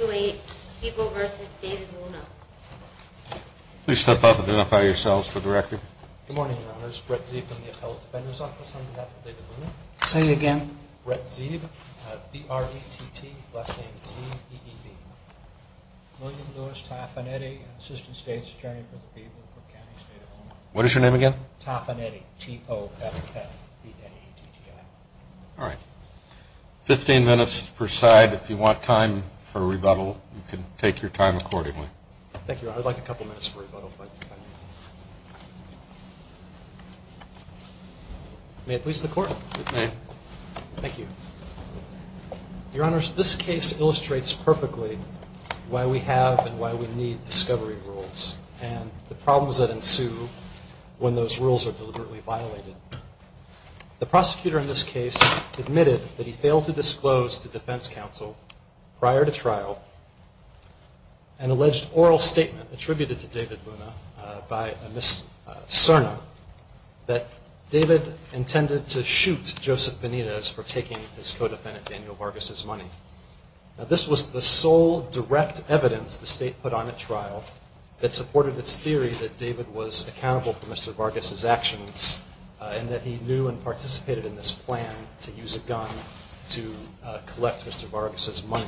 Please step up and identify yourselves for the record. Good morning, Your Honors. Brett Zeeb from the Appellate Defender's Office on behalf of David Luna. Say it again. Brett Zeeb, B-R-E-T-T, last name Zeeb, E-E-B. William Louis Taffanetti, Assistant State's Attorney for the People for the County State of Omaha. What is your name again? Taffanetti, T-O-F-F-B-N-E-T-T-I. All right. Fifteen minutes per side. If you want time for rebuttal, you can take your time accordingly. Thank you, Your Honors. I'd like a couple minutes for rebuttal, if I may. May it please the Court. It may. Thank you. Your Honors, this case illustrates perfectly why we have and why we need discovery rules and the problems that ensue when those rules are deliberately violated. The prosecutor in this case admitted that he failed to disclose to defense counsel prior to trial an alleged oral statement attributed to David Luna by Ms. Cerna that David intended to shoot Joseph Benitez for taking his co-defendant Daniel Vargas' money. Now, this was the sole direct evidence the State put on at trial that supported its theory that David was accountable for Mr. Vargas' actions and that he knew and participated in this plan to use a gun to collect Mr. Vargas' money.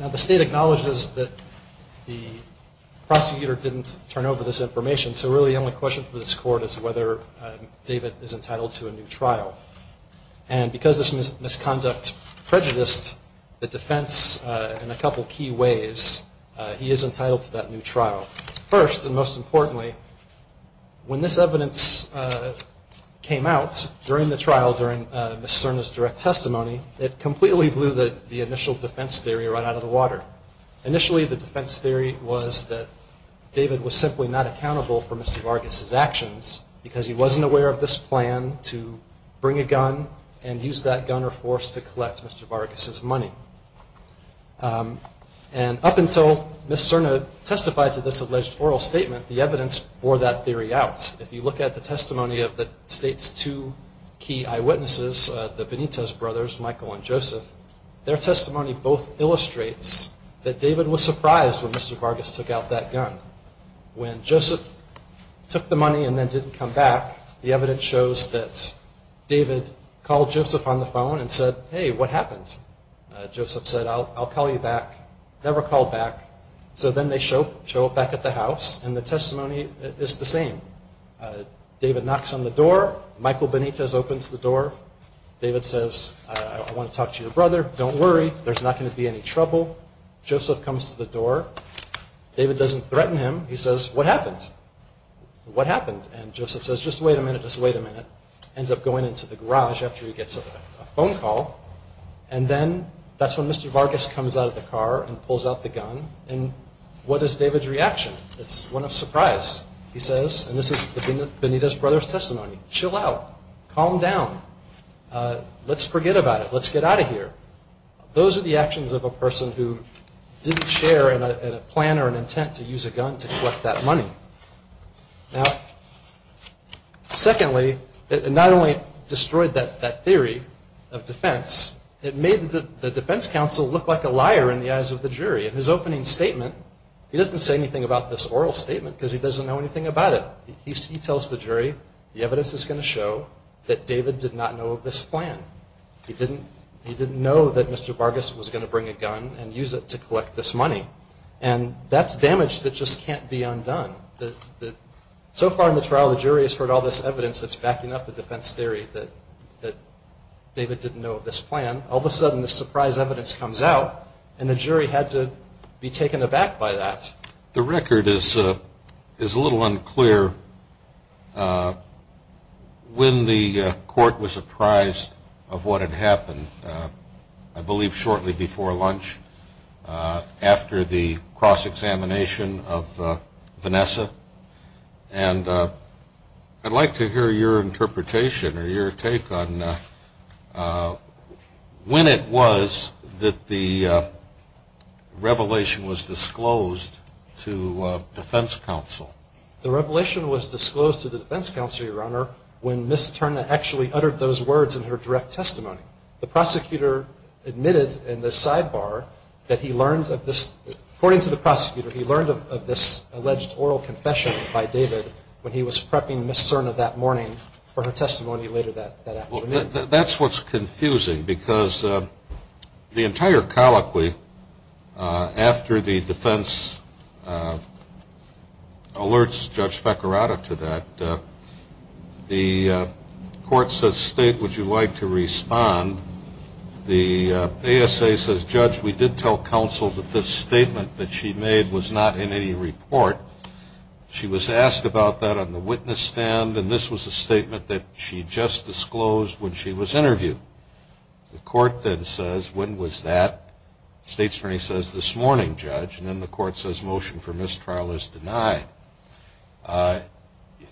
Now, the State acknowledges that the prosecutor didn't turn over this information, so really the only question for this Court is whether David is entitled to a new trial. And because this misconduct prejudiced the defense in a couple key ways, he is entitled to that new trial. First, and most importantly, when this evidence came out during the trial, during Ms. Cerna's direct testimony, it completely blew the initial defense theory right out of the water. Initially, the defense theory was that David was simply not accountable for Mr. Vargas' actions because he wasn't aware of this plan to bring a gun and use that gun or force to collect Mr. Vargas' money. And up until Ms. Cerna testified to this alleged oral statement, the evidence bore that theory out. If you look at the testimony of the State's two key eyewitnesses, the Benitez brothers, Michael and Joseph, their testimony both illustrates that David was surprised when Mr. Vargas took out that gun. When Joseph took the money and then didn't come back, the evidence shows that David called Joseph on the phone and said, hey, what happened? Joseph said, I'll call you back. Never called back. So then they show up back at the house, and the testimony is the same. David knocks on the door. Michael Benitez opens the door. David says, I want to talk to your brother. Don't worry. There's not going to be any trouble. Joseph comes to the door. David doesn't threaten him. He says, what happened? What happened? And Joseph says, just wait a minute, just wait a minute. Ends up going into the garage after he gets a phone call. And then that's when Mr. Vargas comes out of the car and pulls out the gun. And what is David's reaction? It's one of surprise. He says, and this is the Benitez brothers' testimony, chill out. Calm down. Let's forget about it. Let's get out of here. Those are the actions of a person who didn't share in a plan or an intent to use a gun to collect that money. Now, secondly, it not only destroyed that theory of defense, it made the defense counsel look like a liar in the eyes of the jury. In his opening statement, he doesn't say anything about this oral statement because he doesn't know anything about it. He tells the jury, the evidence is going to show that David did not know of this plan. He didn't know that Mr. Vargas was going to bring a gun and use it to collect this money. And that's damage that just can't be undone. So far in the trial, the jury has heard all this evidence that's backing up the defense theory that David didn't know of this plan. All of a sudden, this surprise evidence comes out, and the jury had to be taken aback by that. The record is a little unclear. When the court was apprised of what had happened, I believe shortly before lunch after the cross-examination of Vanessa, and I'd like to hear your interpretation or your take on when it was that the revelation was disclosed to defense counsel. The revelation was disclosed to the defense counsel, Your Honor, when Ms. Cerna actually uttered those words in her direct testimony. The prosecutor admitted in the sidebar that he learned of this. According to the prosecutor, he learned of this alleged oral confession by David when he was prepping Ms. Cerna that morning for her testimony later that afternoon. That's what's confusing because the entire colloquy, after the defense alerts Judge Fekirada to that, the court says, State, would you like to respond? The ASA says, Judge, we did tell counsel that this statement that she made was not in any report. She was asked about that on the witness stand, and this was a statement that she just disclosed when she was interviewed. The court then says, when was that? State's attorney says, this morning, Judge, and then the court says motion for mistrial is denied.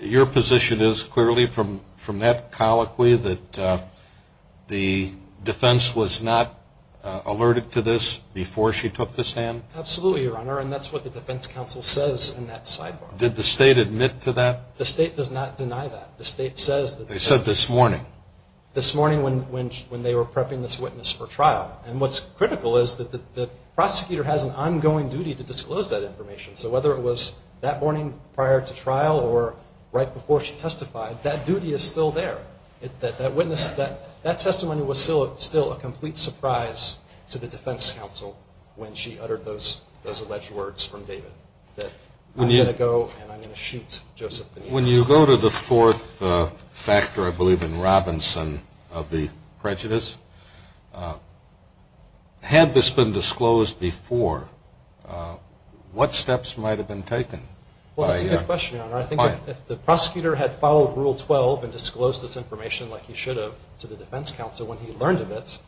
Your position is clearly from that colloquy that the defense was not alerted to this before she took this hand? Absolutely, Your Honor, and that's what the defense counsel says in that sidebar. Did the state admit to that? The state does not deny that. They said this morning. This morning when they were prepping this witness for trial, and what's critical is that the prosecutor has an ongoing duty to disclose that information, so whether it was that morning prior to trial or right before she testified, that duty is still there. That testimony was still a complete surprise to the defense counsel when she uttered those alleged words from David, that I'm going to go and I'm going to shoot Joseph. When you go to the fourth factor, I believe, in Robinson of the prejudice, had this been disclosed before, what steps might have been taken? Well, that's a good question, Your Honor. I think if the prosecutor had followed Rule 12 and disclosed this information like he should have to the defense counsel when he learned of it,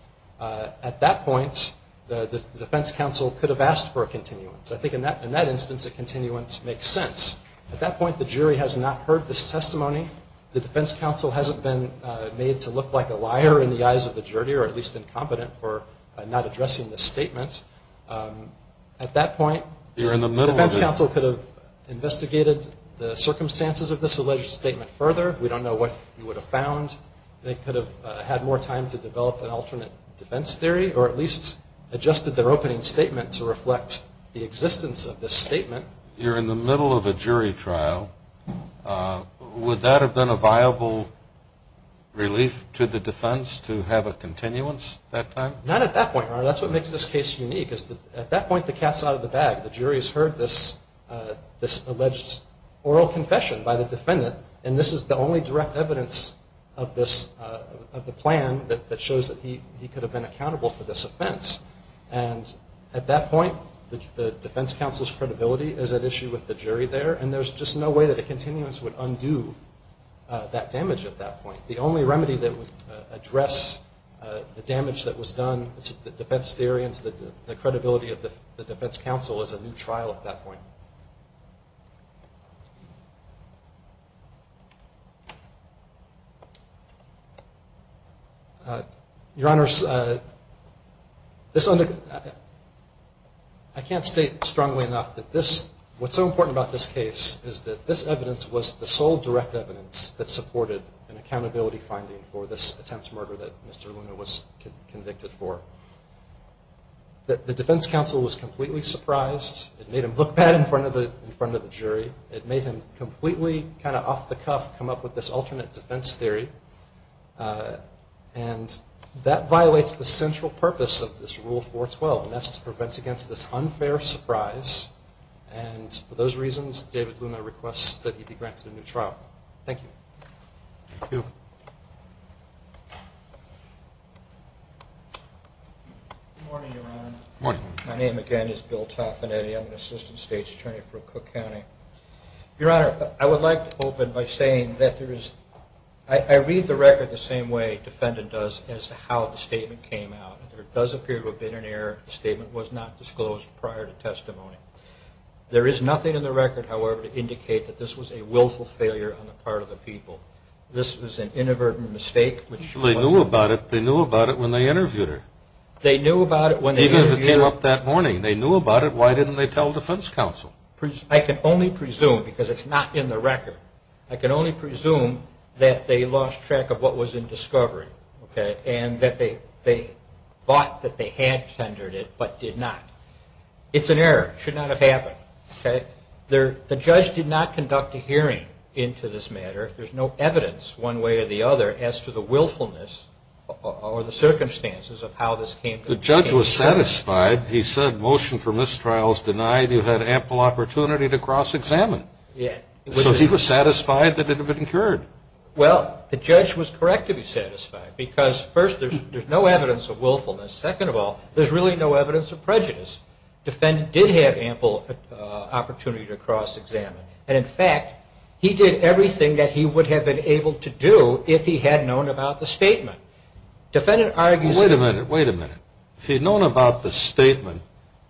at that point, the defense counsel could have asked for a continuance. I think in that instance, a continuance makes sense. At that point, the jury has not heard this testimony. The defense counsel hasn't been made to look like a liar in the eyes of the jury or at least incompetent for not addressing this statement. At that point, the defense counsel could have investigated the circumstances of this alleged statement further. We don't know what he would have found. They could have had more time to develop an alternate defense theory or at least adjusted their opening statement to reflect the existence of this statement. You're in the middle of a jury trial. Would that have been a viable relief to the defense to have a continuance that time? Not at that point, Your Honor. That's what makes this case unique. At that point, the cat's out of the bag. The jury has heard this alleged oral confession by the defendant, and this is the only direct evidence of the plan that shows that he could have been accountable for this offense. And at that point, the defense counsel's credibility is at issue with the jury there, and there's just no way that a continuance would undo that damage at that point. The only remedy that would address the damage that was done to the defense theory and to the credibility of the defense counsel is a new trial at that point. Your Honors, I can't state strongly enough that this, what's so important about this case is that this evidence was the sole direct evidence that supported an accountability finding for this attempt to murder that Mr. Luna was convicted for. The defense counsel was completely surprised. It made him look bad in front of the jury. It made him completely kind of off the cuff come up with this alternate defense theory, and that violates the central purpose of this Rule 412, and that's to prevent against this unfair surprise, and for those reasons, David Luna requests that he be granted a new trial. Thank you. Thank you. Good morning, Your Honor. Good morning. My name, again, is Bill Toffinetti. I'm an assistant state's attorney for Cook County. Your Honor, I would like to open by saying that there is, I read the record the same way a defendant does as to how the statement came out. There does appear to have been an error. The statement was not disclosed prior to testimony. There is nothing in the record, however, to indicate that this was a willful failure on the part of the people. This was an inadvertent mistake. They knew about it. They knew about it when they interviewed her. They knew about it when they interviewed her. Even if it came up that morning, they knew about it. Why didn't they tell defense counsel? I can only presume, because it's not in the record, I can only presume that they lost track of what was in discovery, okay, and that they thought that they had tendered it but did not. It's an error. It should not have happened, okay? The judge did not conduct a hearing into this matter. There's no evidence one way or the other as to the willfulness or the circumstances of how this came to be. The judge was satisfied. He said, motion for mistrials denied. You had ample opportunity to cross-examine. So he was satisfied that it had been incurred. Well, the judge was correct to be satisfied because, first, there's no evidence of willfulness. Second of all, there's really no evidence of prejudice. Defendant did have ample opportunity to cross-examine. And, in fact, he did everything that he would have been able to do if he had known about the statement. Wait a minute. Wait a minute. If he had known about the statement,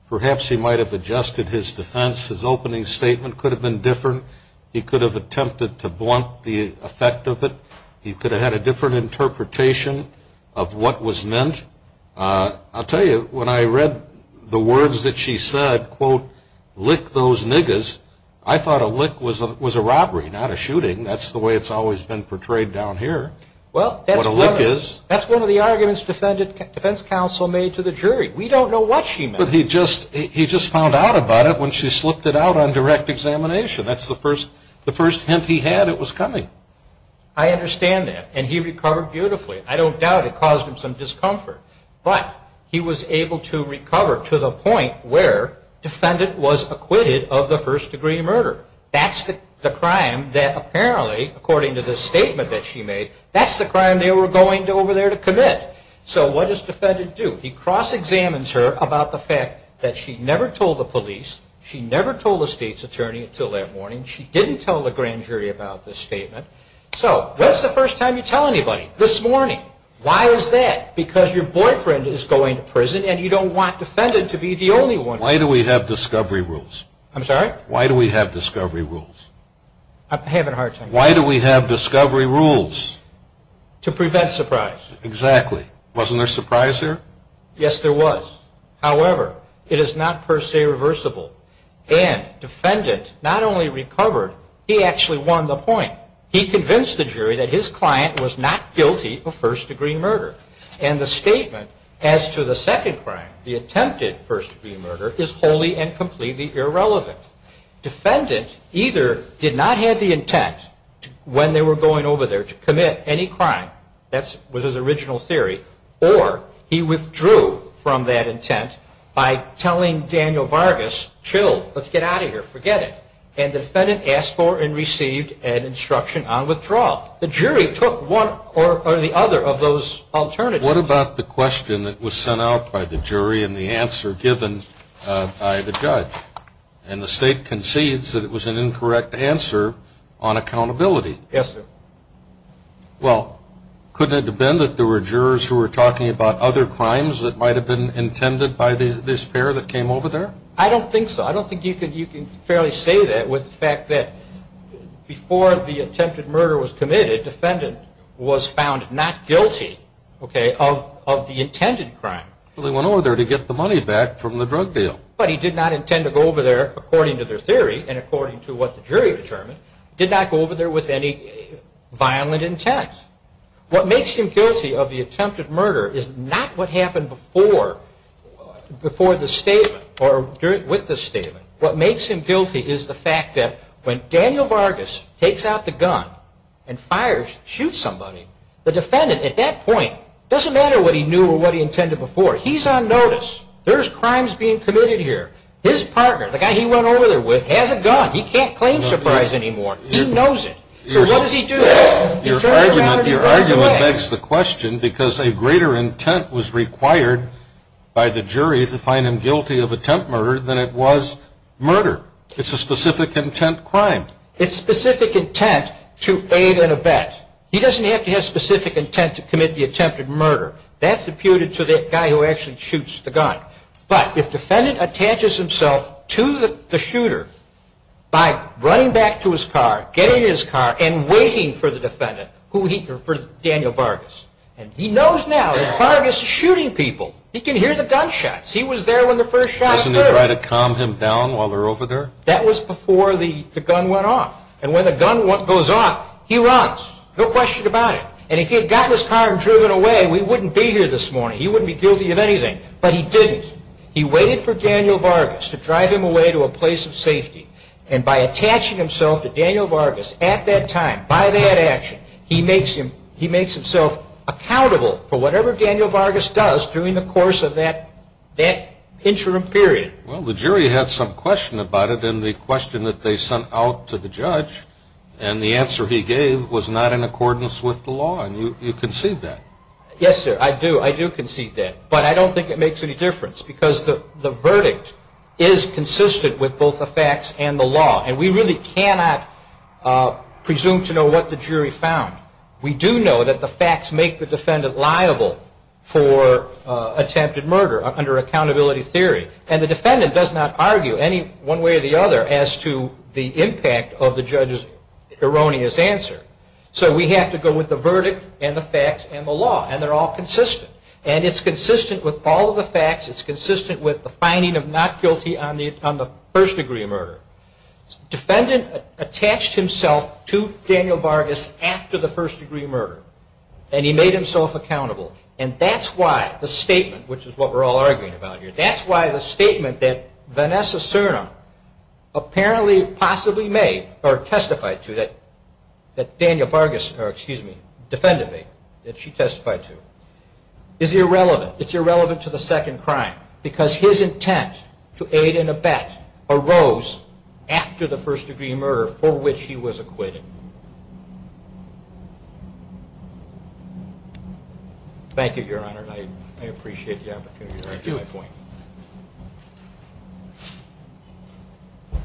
perhaps he might have adjusted his defense. His opening statement could have been different. He could have attempted to blunt the effect of it. He could have had a different interpretation of what was meant. I'll tell you, when I read the words that she said, quote, lick those niggers, I thought a lick was a robbery, not a shooting. That's the way it's always been portrayed down here, what a lick is. Well, that's one of the arguments defense counsel made to the jury. We don't know what she meant. But he just found out about it when she slipped it out on direct examination. That's the first hint he had it was coming. I understand that. And he recovered beautifully. I don't doubt it caused him some discomfort. But he was able to recover to the point where defendant was acquitted of the first-degree murder. That's the crime that apparently, according to the statement that she made, that's the crime they were going over there to commit. So what does defendant do? He cross-examines her about the fact that she never told the police, she never told the state's attorney until that morning, she didn't tell the grand jury about this statement. So when's the first time you tell anybody? This morning. Why is that? Because your boyfriend is going to prison and you don't want defendant to be the only one. Why do we have discovery rules? I'm sorry? Why do we have discovery rules? I'm having a hard time. Why do we have discovery rules? To prevent surprise. Exactly. Wasn't there surprise there? Yes, there was. However, it is not per se reversible. And defendant not only recovered, he actually won the point. He convinced the jury that his client was not guilty of first-degree murder. And the statement as to the second crime, the attempted first-degree murder, is wholly and completely irrelevant. Defendant either did not have the intent when they were going over there to commit any crime, that was his original theory, or he withdrew from that intent by telling Daniel Vargas, chill, let's get out of here, forget it. And defendant asked for and received an instruction on withdrawal. The jury took one or the other of those alternatives. What about the question that was sent out by the jury and the answer given by the judge? And the state concedes that it was an incorrect answer on accountability. Yes, sir. Well, couldn't it have been that there were jurors who were talking about other crimes that might have been intended by this pair that came over there? I don't think so. I don't think you can fairly say that with the fact that before the attempted murder was committed, defendant was found not guilty, okay, of the intended crime. Well, they went over there to get the money back from the drug deal. But he did not intend to go over there, according to their theory and according to what the jury determined, did not go over there with any violent intent. What makes him guilty of the attempted murder is not what happened before the statement or with the statement. What makes him guilty is the fact that when Daniel Vargas takes out the gun and fires, shoots somebody, the defendant at that point doesn't matter what he knew or what he intended before. He's on notice. There's crimes being committed here. His partner, the guy he went over there with, has a gun. He can't claim surprise anymore. He knows it. So what does he do? Your argument begs the question because a greater intent was required by the jury to find him guilty of attempt murder than it was murder. It's a specific intent crime. It's specific intent to aid in a bet. He doesn't have to have specific intent to commit the attempted murder. That's imputed to the guy who actually shoots the gun. But if defendant attaches himself to the shooter by running back to his car, getting in his car, and waiting for the defendant, for Daniel Vargas, and he knows now that Vargas is shooting people. He can hear the gunshots. He was there when the first shot occurred. Doesn't he try to calm him down while they're over there? That was before the gun went off. And when the gun goes off, he runs, no question about it. And if he had gotten his car and driven away, we wouldn't be here this morning. He wouldn't be guilty of anything. But he didn't. He waited for Daniel Vargas to drive him away to a place of safety. And by attaching himself to Daniel Vargas at that time, by that action, he makes himself accountable for whatever Daniel Vargas does during the course of that interim period. Well, the jury had some question about it. And the question that they sent out to the judge and the answer he gave was not in accordance with the law. And you concede that. Yes, sir, I do. I do concede that. But I don't think it makes any difference because the verdict is consistent with both the facts and the law. And we really cannot presume to know what the jury found. We do know that the facts make the defendant liable for attempted murder under accountability theory. And the defendant does not argue any one way or the other as to the impact of the judge's erroneous answer. So we have to go with the verdict and the facts and the law. And they're all consistent. And it's consistent with all of the facts. It's consistent with the finding of not guilty on the first degree of murder. Defendant attached himself to Daniel Vargas after the first degree of murder. And he made himself accountable. And that's why the statement, which is what we're all arguing about here, that's why the statement that Vanessa Cernan apparently possibly made or testified to that Daniel Vargas, or excuse me, defended me, that she testified to, is irrelevant. It's irrelevant to the second crime because his intent to aid in a bet arose after the first degree of murder for which he was acquitted. Thank you, Your Honor. I appreciate the opportunity to answer my point. Thank you.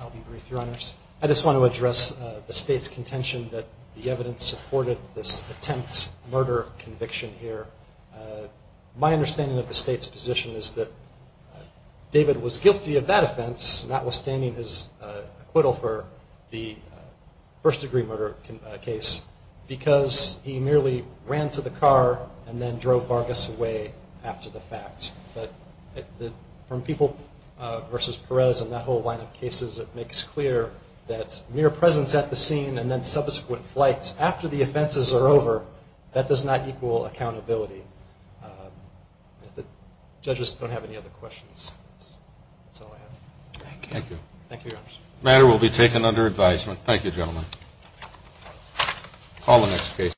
I'll be brief, Your Honors. I just want to address the State's contention that the evidence supported this attempt murder conviction here. My understanding of the State's position is that David was guilty of that offense, notwithstanding his acquittal for the first degree murder case, because he merely ran to the car and then drove Vargas away after the fact. But from People v. Perez and that whole line of cases, it makes clear that mere presence at the scene and then subsequent flights after the offenses are over, that does not equal accountability. If the judges don't have any other questions, that's all I have. Thank you. Thank you, Your Honors. The matter will be taken under advisement. Thank you, gentlemen. Call the next case.